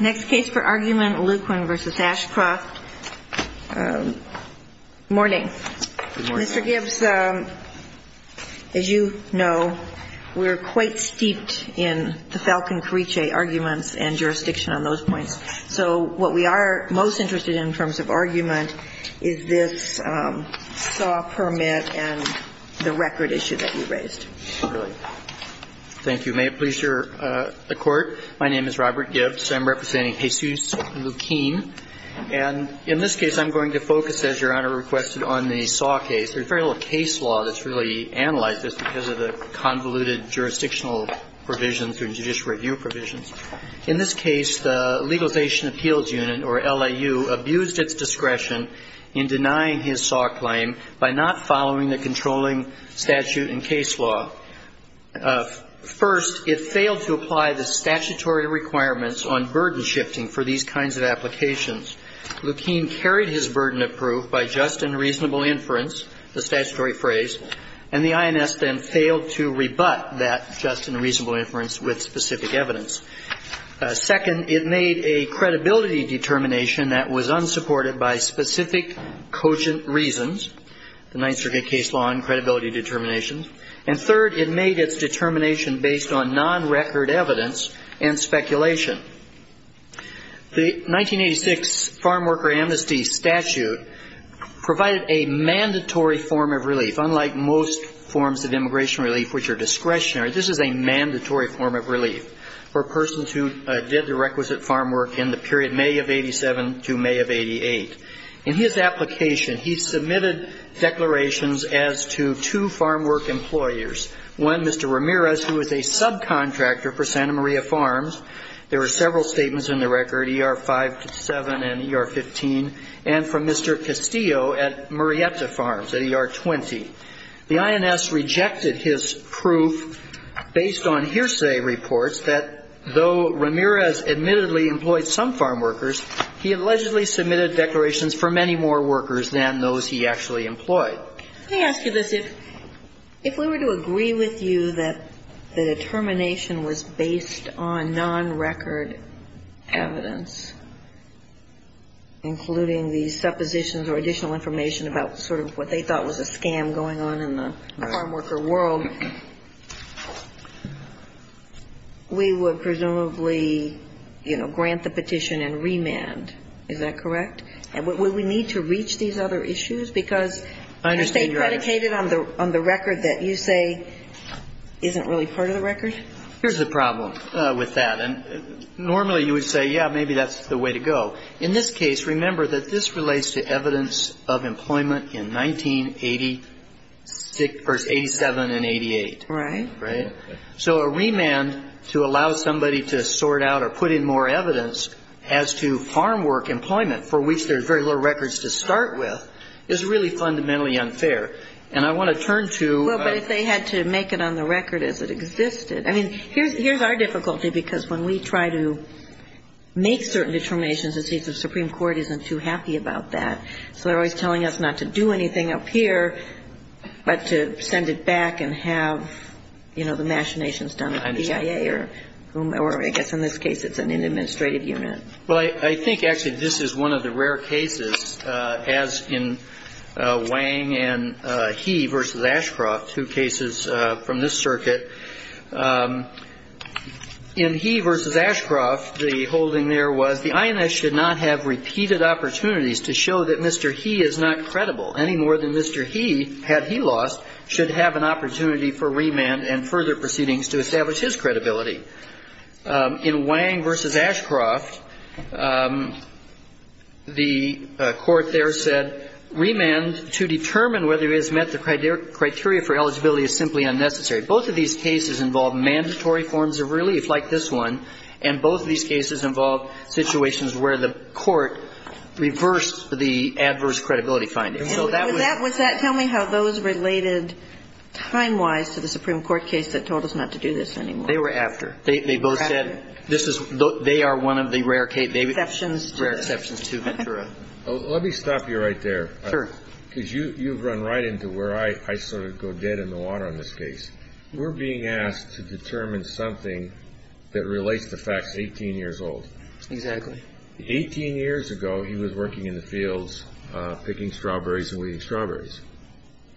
Next case for argument, Luquin v. Aschroft. Morning. Mr. Gibbs, as you know, we are quite steeped in the Falcon-Carriche arguments and jurisdiction on those points. So what we are most interested in in terms of argument is this SAW permit and the record issue that you raised. Thank you. May it please the Court. My name is Robert Gibbs. I'm representing Jesus Luquin. And in this case, I'm going to focus, as Your Honor requested, on the SAW case. There's very little case law that's really analyzed this because of the convoluted jurisdictional provisions or judicial review provisions. In this case, the Legalization Appeals Unit, or LIU, abused its discretion in denying his SAW claim by not following the controlling statute and case law. First, it failed to apply the statutory requirements on burden shifting for these kinds of applications. Luquin carried his burden of proof by just and reasonable inference, the statutory phrase, and the INS then failed to rebut that just and reasonable inference with specific evidence. Second, it made a credibility determination that was unsupported by specific cogent reasons, the Ninth Circuit case law on credibility determination. And third, it made its determination based on non-record evidence and speculation. The 1986 Farmworker Amnesty statute provided a mandatory form of relief, unlike most forms of immigration relief, which are discretionary. This is a mandatory form of relief for persons who did the requisite farm work in the period May of 87 to May of 88. In his application, he submitted declarations as to two farm work employers. One, Mr. Ramirez, who was a subcontractor for Santa Maria Farms. There was no record of him, but he was an employee of Santa Maria Farms. There were several statements in the record, ER-5 to 7 and ER-15, and from Mr. Castillo at Murrieta Farms at ER-20. The INS rejected his proof based on hearsay reports that though Ramirez admittedly employed some farm workers, he allegedly submitted declarations for many more workers than those he actually employed. So let me ask you this. If we were to agree with you that the determination was based on non-record evidence, including the suppositions or additional information about sort of what they thought was a scam going on in the farm worker world, we would presumably, you know, grant the petition and remand. Is that correct? And would we need to reach these other issues? Because hearsay predicated on the record that you say isn't really part of the record? Here's the problem with that. And normally you would say, yeah, maybe that's the way to go. In this case, remember that this relates to evidence of employment in 1987 and 88. Right. So a remand to allow somebody to sort out or put in more evidence as to farm work employment, for which there's very little records to start with, is really fundamentally unfair. And I want to turn to — Well, but if they had to make it on the record as it existed. I mean, here's our difficulty, because when we try to make certain determinations, the Supreme Court isn't too happy about that. So they're always telling us not to do anything up here, but to send it back and have, you know, the machinations done at BIA or whom — or I guess in this case it's an administrative unit. Well, I think actually this is one of the rare cases, as in Wang and He versus Ashcroft, two cases from this circuit. In He versus Ashcroft, the holding there was the INS should not have repeated opportunities to show that Mr. He is not credible, any more than Mr. He, had he lost, should have an opportunity for remand and further proceedings to establish his credibility. In Wang versus Ashcroft, the court there said remand to determine whether he has met the criteria for eligibility is simply unnecessary. Both of these cases involve mandatory forms of relief, like this one, and both of these cases involve situations where the court reversed the adverse credibility finding. So that would — Was that — tell me how those related time-wise to the Supreme Court case that told us not to do this any more. They were after. They both said this is — they are one of the rare — Exceptions. Rare exceptions to Ventura. Let me stop you right there. Sure. Because you've run right into where I sort of go dead in the water on this case. We're being asked to determine something that relates to facts 18 years old. Exactly. Eighteen years ago, he was working in the fields picking strawberries and weeding strawberries.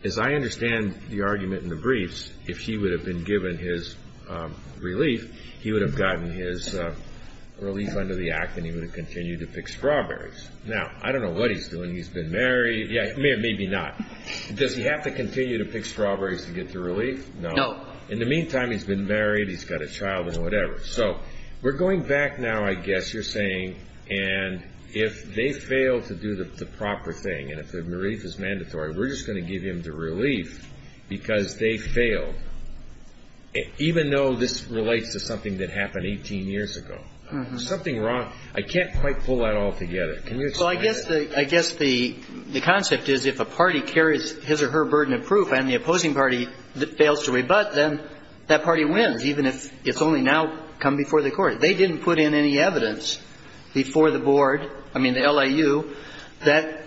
As I understand the argument in the briefs, if he would have been given his relief, he would have gotten his relief under the act and he would have continued to pick strawberries. Now, I don't know what he's doing. He's been married. Yeah, maybe not. Does he have to continue to pick strawberries to get the relief? No. In the meantime, he's been married, he's got a child and whatever. So we're going back now, I guess you're saying, and if they fail to do the proper thing and if the relief is mandatory, we're just going to give him the relief because they failed, even though this relates to something that happened 18 years ago. There's something wrong. I can't quite pull that all together. Can you explain that? Well, I guess the concept is if a party carries his or her burden of proof and the opposing party fails to rebut, then that party wins, even if it's only now come before the court. They didn't put in any evidence before the board, I mean, the LAU, that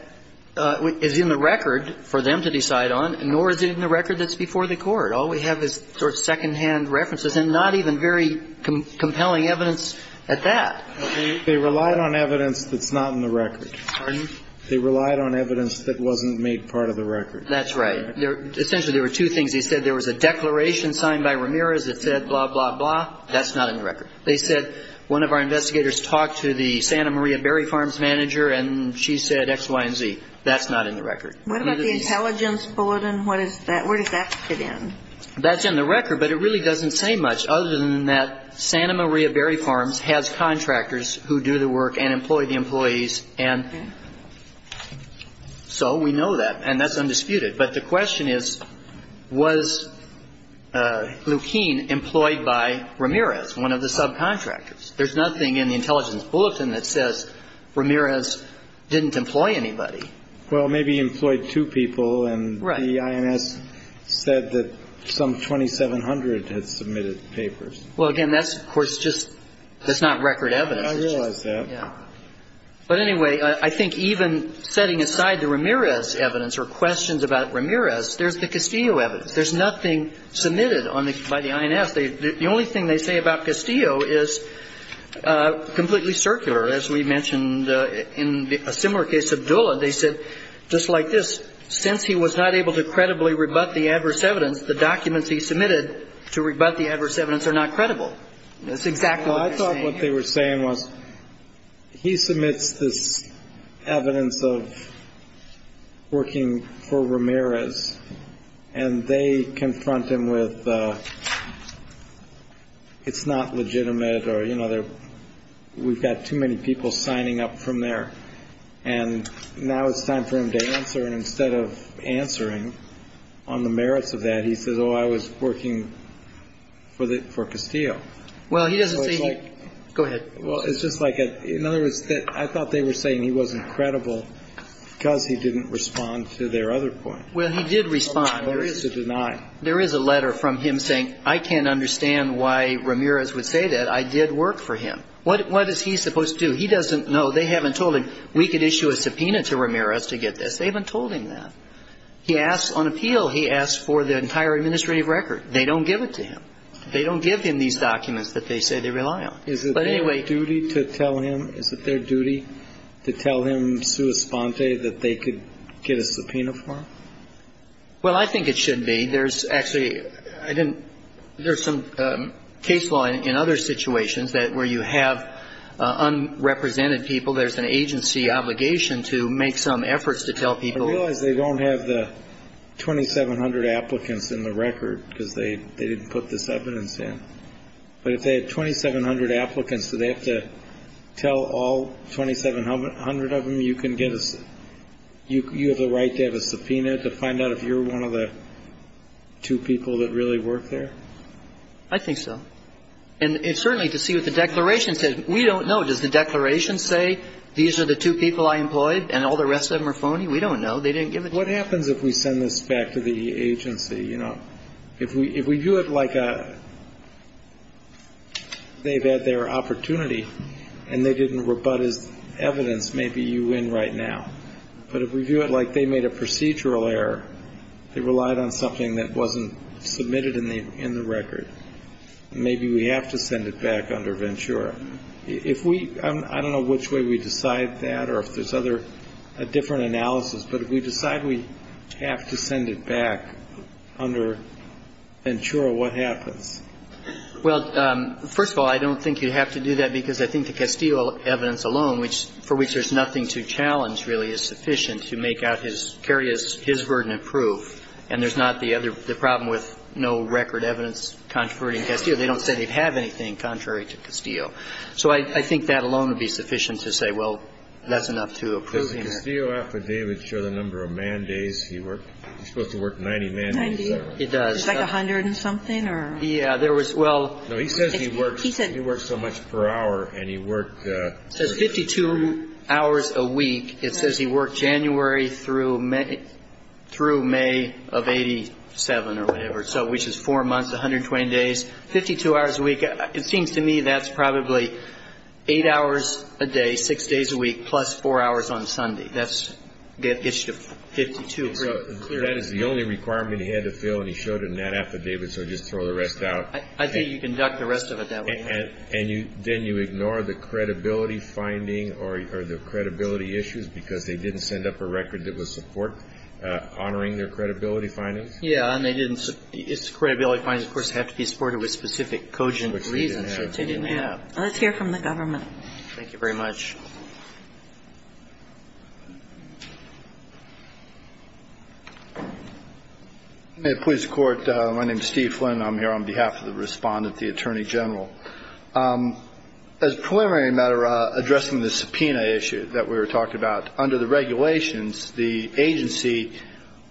is in the record for them to decide on, nor is it in the record that's before the court. All we have is sort of secondhand references and not even very compelling evidence at that. They relied on evidence that's not in the record. Pardon? They relied on evidence that wasn't made part of the record. That's right. Essentially, there were two things. They said there was a declaration signed by Ramirez that said blah, blah, blah. That's not in the record. They said one of our investigators talked to the Santa Maria Berry Farms manager, and she said X, Y, and Z. That's not in the record. What about the intelligence bulletin? What is that? Where does that fit in? That's in the record, but it really doesn't say much other than that Santa Maria Berry Farms has contractors who do the work and employ the employees, and so we know that, and that's undisputed. But the question is, was Leukeen employed by Ramirez, one of the subcontractors? There's nothing in the intelligence bulletin that says Ramirez didn't employ anybody. Well, maybe he employed two people, and the IMS said that some 2,700 had submitted papers. Well, again, that's, of course, just not record evidence. I realize that. But anyway, I think even setting aside the Ramirez evidence or questions about Ramirez, there's the Castillo evidence. There's nothing submitted by the IMS. The only thing they say about Castillo is completely circular. As we mentioned in a similar case, Abdullah, they said just like this, since he was not able to credibly rebut the adverse evidence, the documents he submitted to rebut the adverse evidence are not credible. That's exactly what they're saying. What they're saying was he submits this evidence of working for Ramirez, and they confront him with it's not legitimate or, you know, we've got too many people signing up from there. And now it's time for him to answer, and instead of answering on the merits of that, he says, oh, I was working for Castillo. Well, he doesn't say he. Go ahead. Well, it's just like, in other words, I thought they were saying he wasn't credible because he didn't respond to their other point. Well, he did respond. There is a letter from him saying I can't understand why Ramirez would say that. I did work for him. What is he supposed to do? He doesn't know. They haven't told him we could issue a subpoena to Ramirez to get this. They haven't told him that. He asks on appeal. He asks for the entire administrative record. They don't give it to him. They don't give him these documents that they say they rely on. But anyway. Is it their duty to tell him, is it their duty to tell him sua sponte that they could get a subpoena for him? Well, I think it should be. There's actually, I didn't, there's some case law in other situations that where you have unrepresented people, there's an agency obligation to make some efforts to tell people. I realize they don't have the 2,700 applicants in the record because they didn't put this evidence in. But if they had 2,700 applicants, do they have to tell all 2,700 of them you can get a, you have the right to have a subpoena to find out if you're one of the two people that really work there? I think so. And certainly to see what the declaration says. We don't know. Does the declaration say these are the two people I employed and all the rest of them are phony? We don't know. What happens if we send this back to the agency? You know, if we do it like a, they've had their opportunity and they didn't rebut as evidence, maybe you win right now. But if we do it like they made a procedural error, they relied on something that wasn't submitted in the record, maybe we have to send it back under Ventura. If we, I don't know which way we decide that or if there's other, a different analysis, but if we decide we have to send it back under Ventura, what happens? Well, first of all, I don't think you have to do that because I think the Castillo evidence alone, which for which there's nothing to challenge really is sufficient to make out his, carry his burden of proof. And there's not the other, the problem with no record evidence contrary to Castillo. They don't say they have anything contrary to Castillo. So I think that alone would be sufficient to say, well, that's enough to approve him. Does the Castillo affidavit show the number of man-days he worked? He's supposed to work 90 man-days. 90? It does. It's like 100 and something or? Yeah, there was, well. No, he says he works so much per hour and he worked. It says 52 hours a week. It says he worked January through May of 87 or whatever, which is four months, 120 days. 52 hours a week, it seems to me that's probably eight hours a day, six days a week, plus four hours on Sunday. That's, it gets you to 52. So that is the only requirement he had to fill and he showed it in that affidavit, so just throw the rest out. I think you can duck the rest of it that way. And you, then you ignore the credibility finding or the credibility issues because they didn't send up a record that would support honoring their credibility findings? Yeah, and they didn't, it's credibility findings, of course, have to be supported with specific cogent reasons. Which they didn't have. Which they didn't have. Let's hear from the government. Thank you very much. May it please the Court, my name is Steve Flynn. I'm here on behalf of the Respondent, the Attorney General. As a preliminary matter, addressing the subpoena issue that we were talking about, under the regulations, the agency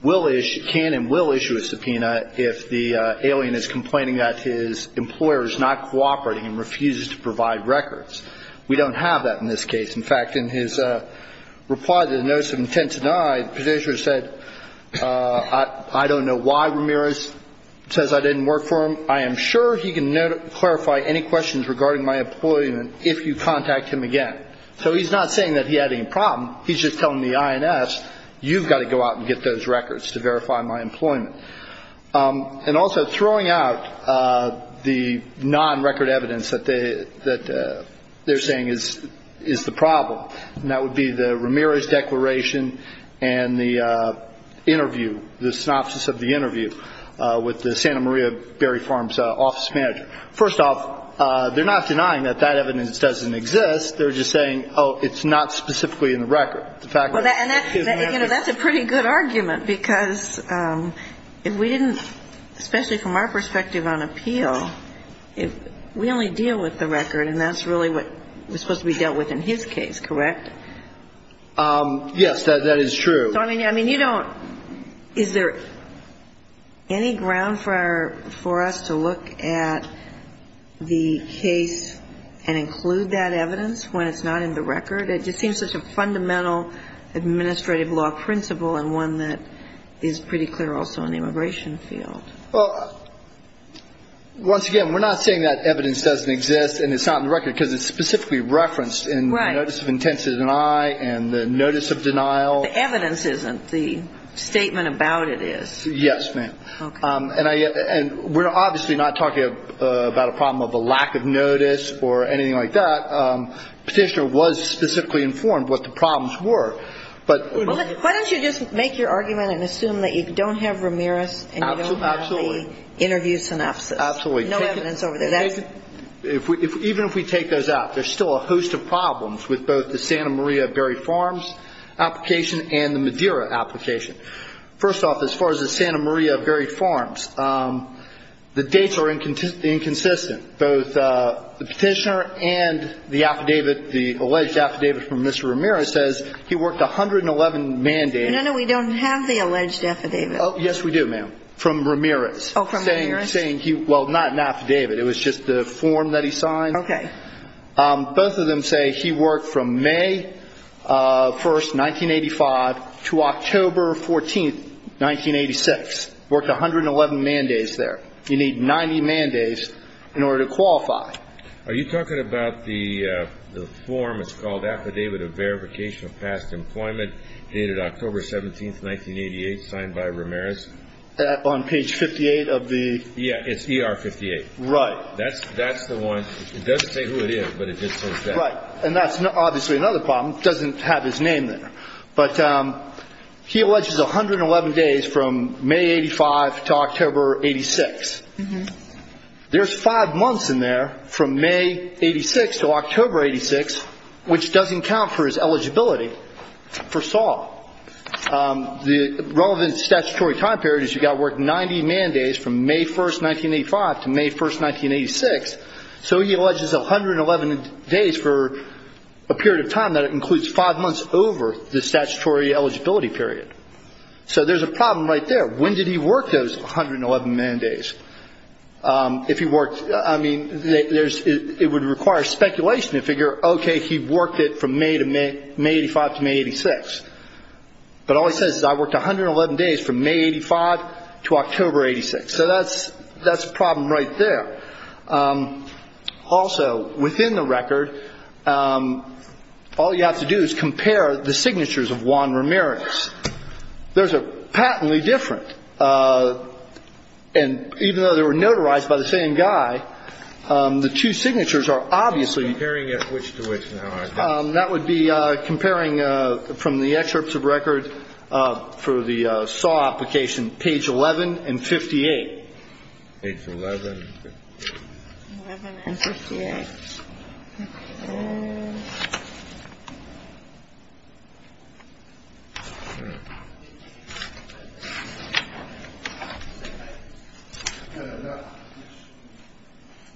can and will issue a subpoena if the alien is complaining that his employer is not cooperating and refuses to provide records. We don't have that in this case. In fact, in his reply to the notice of intent denied, the petitioner said, I don't know why Ramirez says I didn't work for him. I am sure he can clarify any questions regarding my employment if you contact him again. So he's not saying that he had any problem. He's just telling the INS, you've got to go out and get those records to verify my employment. And also throwing out the non-record evidence that they're saying is the problem. And that would be the Ramirez declaration and the interview, the synopsis of the interview with the Santa Maria Berry Farms office manager. First off, they're not denying that that evidence doesn't exist. They're just saying, oh, it's not specifically in the record. And that's a pretty good argument, because if we didn't, especially from our perspective on appeal, we only deal with the record. And that's really what was supposed to be dealt with in his case, correct? Yes, that is true. I mean, you don't – is there any ground for our – for us to look at the case and include that evidence when it's not in the record? It just seems such a fundamental administrative law principle and one that is pretty clear also in the immigration field. Well, once again, we're not saying that evidence doesn't exist and it's not in the record, because it's specifically referenced in the notice of intent denied and the notice of denial. The evidence isn't. The statement about it is. Yes, ma'am. Okay. And we're obviously not talking about a problem of a lack of notice or anything like that. Petitioner was specifically informed what the problems were, but – Why don't you just make your argument and assume that you don't have Ramirez and you don't have the interview synopsis? Absolutely. No evidence over there. Even if we take those out, there's still a host of problems with both the Santa Maria Buried Farms application and the Madeira application. First off, as far as the Santa Maria Buried Farms, the dates are inconsistent. Both the petitioner and the affidavit, the alleged affidavit from Mr. Ramirez says he worked 111 mandates. No, no, we don't have the alleged affidavit. Yes, we do, ma'am, from Ramirez. Oh, from Ramirez? Well, not an affidavit. It was just the form that he signed. Okay. Both of them say he worked from May 1, 1985 to October 14, 1986. Worked 111 mandates there. You need 90 mandates in order to qualify. Are you talking about the form? It's called Affidavit of Verification of Past Employment, dated October 17, 1988, signed by Ramirez? On page 58 of the? Yeah, it's ER 58. Right. That's the one. It doesn't say who it is, but it just says that. Right, and that's obviously another problem. It doesn't have his name there. But he alleges 111 days from May 85 to October 86. There's five months in there from May 86 to October 86, which doesn't count for his eligibility for SAW. The relevant statutory time period is you've got to work 90 mandates from May 1, 1985 to May 1, 1986. So he alleges 111 days for a period of time that includes five months over the statutory eligibility period. So there's a problem right there. When did he work those 111 mandates? If he worked, I mean, it would require speculation to figure, okay, he worked it from May 85 to May 86. But all he says is I worked 111 days from May 85 to October 86. So that's a problem right there. Also, within the record, all you have to do is compare the signatures of Juan Ramirez. Those are patently different. And even though they were notarized by the same guy, the two signatures are obviously? He's comparing it which to which now, I think. That would be comparing from the excerpts of record for the SAW application, page 11 and 58. Page 11.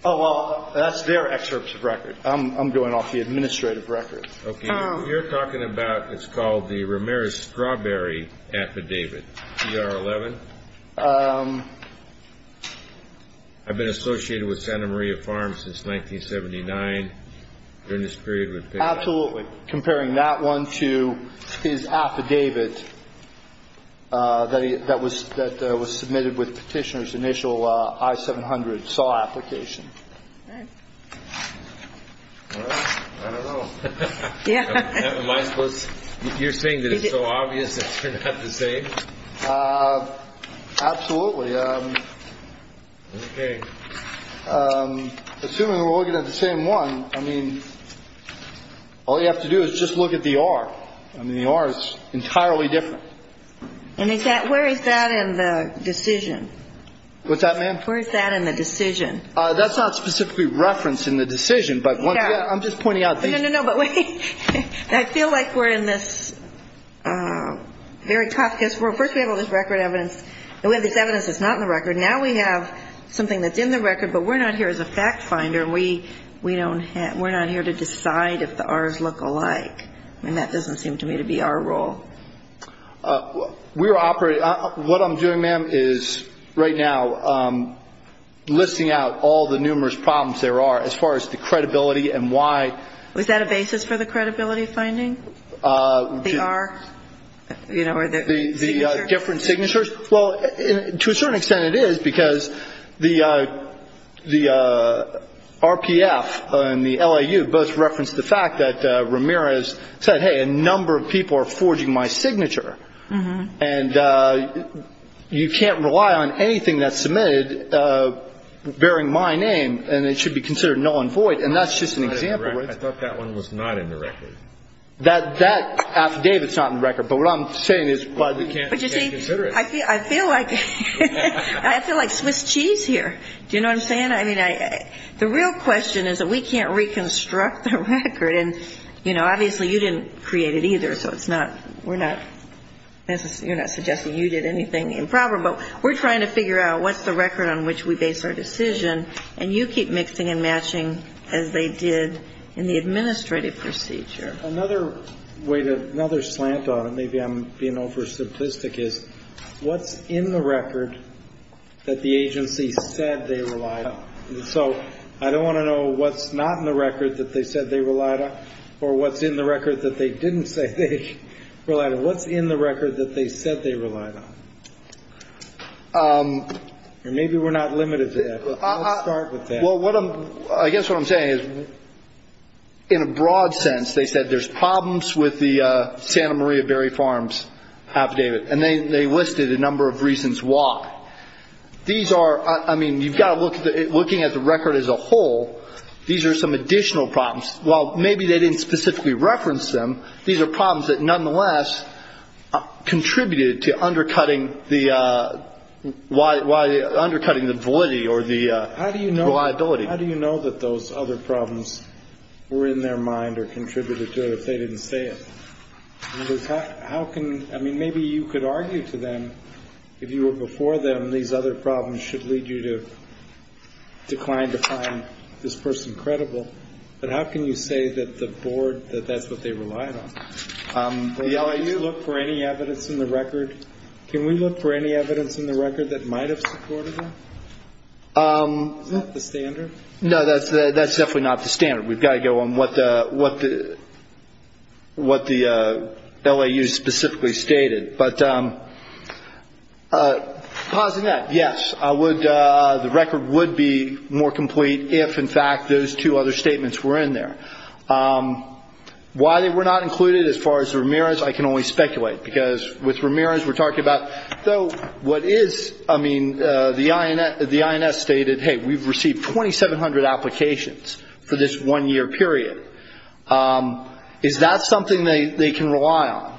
Oh, well, that's their excerpts of record. I'm going off the administrative record. Okay. You're talking about what's called the Ramirez-Strawberry affidavit, CR 11? I've been associated with Santa Maria Farms since 1979. During this period, we've been? Absolutely. I don't know. Am I supposed to? You're saying that it's so obvious that they're not the same? Absolutely. Okay. Assuming we're looking at the same one, I mean, all you have to do is compare the signatures of Juan Ramirez. All you have to do is just look at the R. I mean, the R is entirely different. And where is that in the decision? What's that, ma'am? Where is that in the decision? That's not specifically referenced in the decision. No. I'm just pointing out things. No, no, no. But wait. I feel like we're in this very tough case. First, we have all this record evidence, and we have this evidence that's not in the record. Now we have something that's in the record, but we're not here as a fact finder. We're not here to decide if the R's look alike. I mean, that doesn't seem to me to be our role. What I'm doing, ma'am, is right now listing out all the numerous problems there are as far as the credibility and why. Is that a basis for the credibility finding? The R? The different signatures? Well, to a certain extent it is, because the RPF and the LAU both referenced the fact that Ramirez said, hey, a number of people are forging my signature. And you can't rely on anything that's submitted bearing my name, and it should be considered null and void. And that's just an example. I thought that one was not in the record. That affidavit is not in the record. But you see, I feel like Swiss cheese here. Do you know what I'm saying? I mean, the real question is that we can't reconstruct the record. And, you know, obviously you didn't create it either, so we're not suggesting you did anything improper. But we're trying to figure out what's the record on which we base our decision, and you keep mixing and matching as they did in the administrative procedure. Another way to – another slant on it, maybe I'm being over-simplistic, is what's in the record that the agency said they relied on? So I don't want to know what's not in the record that they said they relied on or what's in the record that they didn't say they relied on. What's in the record that they said they relied on? Or maybe we're not limited to that, but let's start with that. Well, what I'm – I guess what I'm saying is, in a broad sense, they said there's problems with the Santa Maria Berry Farms affidavit, and they listed a number of reasons why. These are – I mean, you've got to look – looking at the record as a whole, these are some additional problems. While maybe they didn't specifically reference them, these are problems that nonetheless contributed to undercutting the – undercutting the validity or the reliability. How do you know that those other problems were in their mind or contributed to it if they didn't say it? How can – I mean, maybe you could argue to them, if you were before them, these other problems should lead you to decline to find this person credible. But how can you say that the board – that that's what they relied on? Can we look for any evidence in the record – can we look for any evidence in the record that might have supported that? Is that the standard? No, that's definitely not the standard. We've got to go on what the – what the – what the LAU specifically stated. But positing that, yes, I would – the record would be more complete if, in fact, those two other statements were in there. Why they were not included as far as Ramirez, I can only speculate, because with Ramirez, we're talking about – so what is – I mean, the INS stated, hey, we've received 2,700 applications for this one-year period. Is that something they can rely on?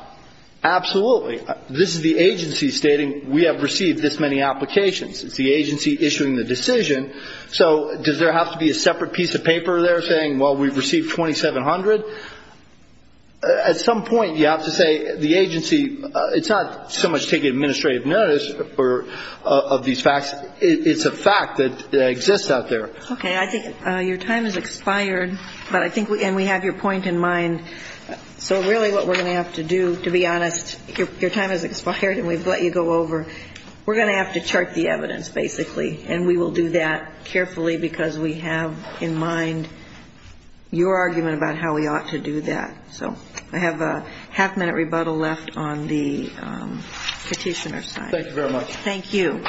Absolutely. This is the agency stating we have received this many applications. It's the agency issuing the decision. So does there have to be a separate piece of paper there saying, well, we've received 2,700? At some point, you have to say the agency – it's not so much taking administrative notice of these facts. It's a fact that exists out there. Okay. I think your time has expired, but I think – and we have your point in mind. So really what we're going to have to do – to be honest, your time has expired and we've let you go over. We're going to have to chart the evidence, basically, and we will do that carefully because we have in mind your argument about how we ought to do that. So I have a half-minute rebuttal left on the petitioner's side. Thank you very much. Thank you.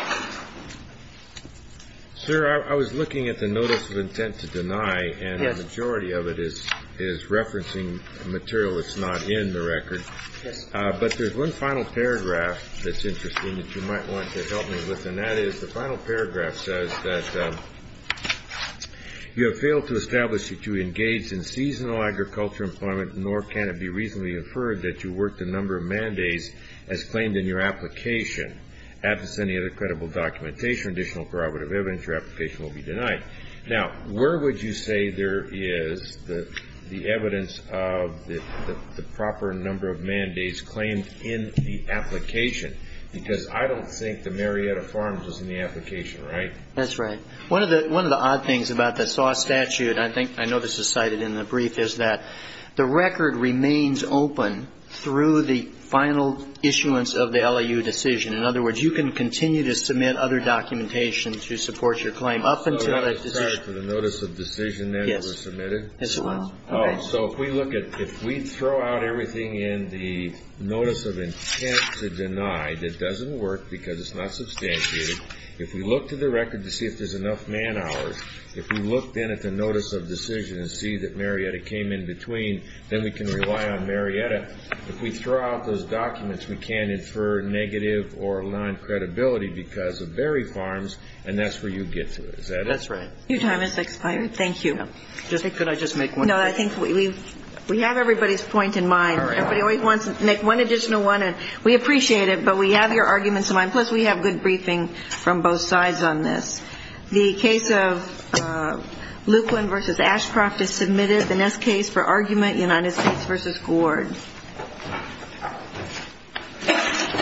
Sir, I was looking at the notice of intent to deny, and the majority of it is referencing material that's not in the record. Yes. But there's one final paragraph that's interesting that you might want to help me with, and that is the final paragraph says that you have failed to establish that you engage in seasonal agriculture employment, nor can it be reasonably inferred that you work the number of mandates as claimed in your application. As is any other credible documentation or additional corroborative evidence, your application will be denied. Now, where would you say there is the evidence of the proper number of mandates claimed in the application? Because I don't think the Marietta Farms is in the application, right? That's right. One of the odd things about the SAW statute – and I know this is cited in the brief – in other words, you can continue to submit other documentation to support your claim up until that decision. I'm sorry. For the notice of decision that was submitted? Yes. Yes, it was. All right. So if we look at – if we throw out everything in the notice of intent to deny that doesn't work because it's not substantiated, if we look to the record to see if there's enough man hours, if we look then at the notice of decision and see that Marietta came in between, then we can rely on Marietta. If we throw out those documents, we can infer negative or aligned credibility because of Berry Farms, and that's where you get to. Is that it? That's right. Your time has expired. Thank you. Could I just make one question? No, I think we have everybody's point in mind. All right. Everybody always wants to make one additional one, and we appreciate it, but we have your arguments in mind. Plus, we have good briefing from both sides on this. The case of Lukland v. Ashcroft is submitted. The next case for argument, United States v. Gord.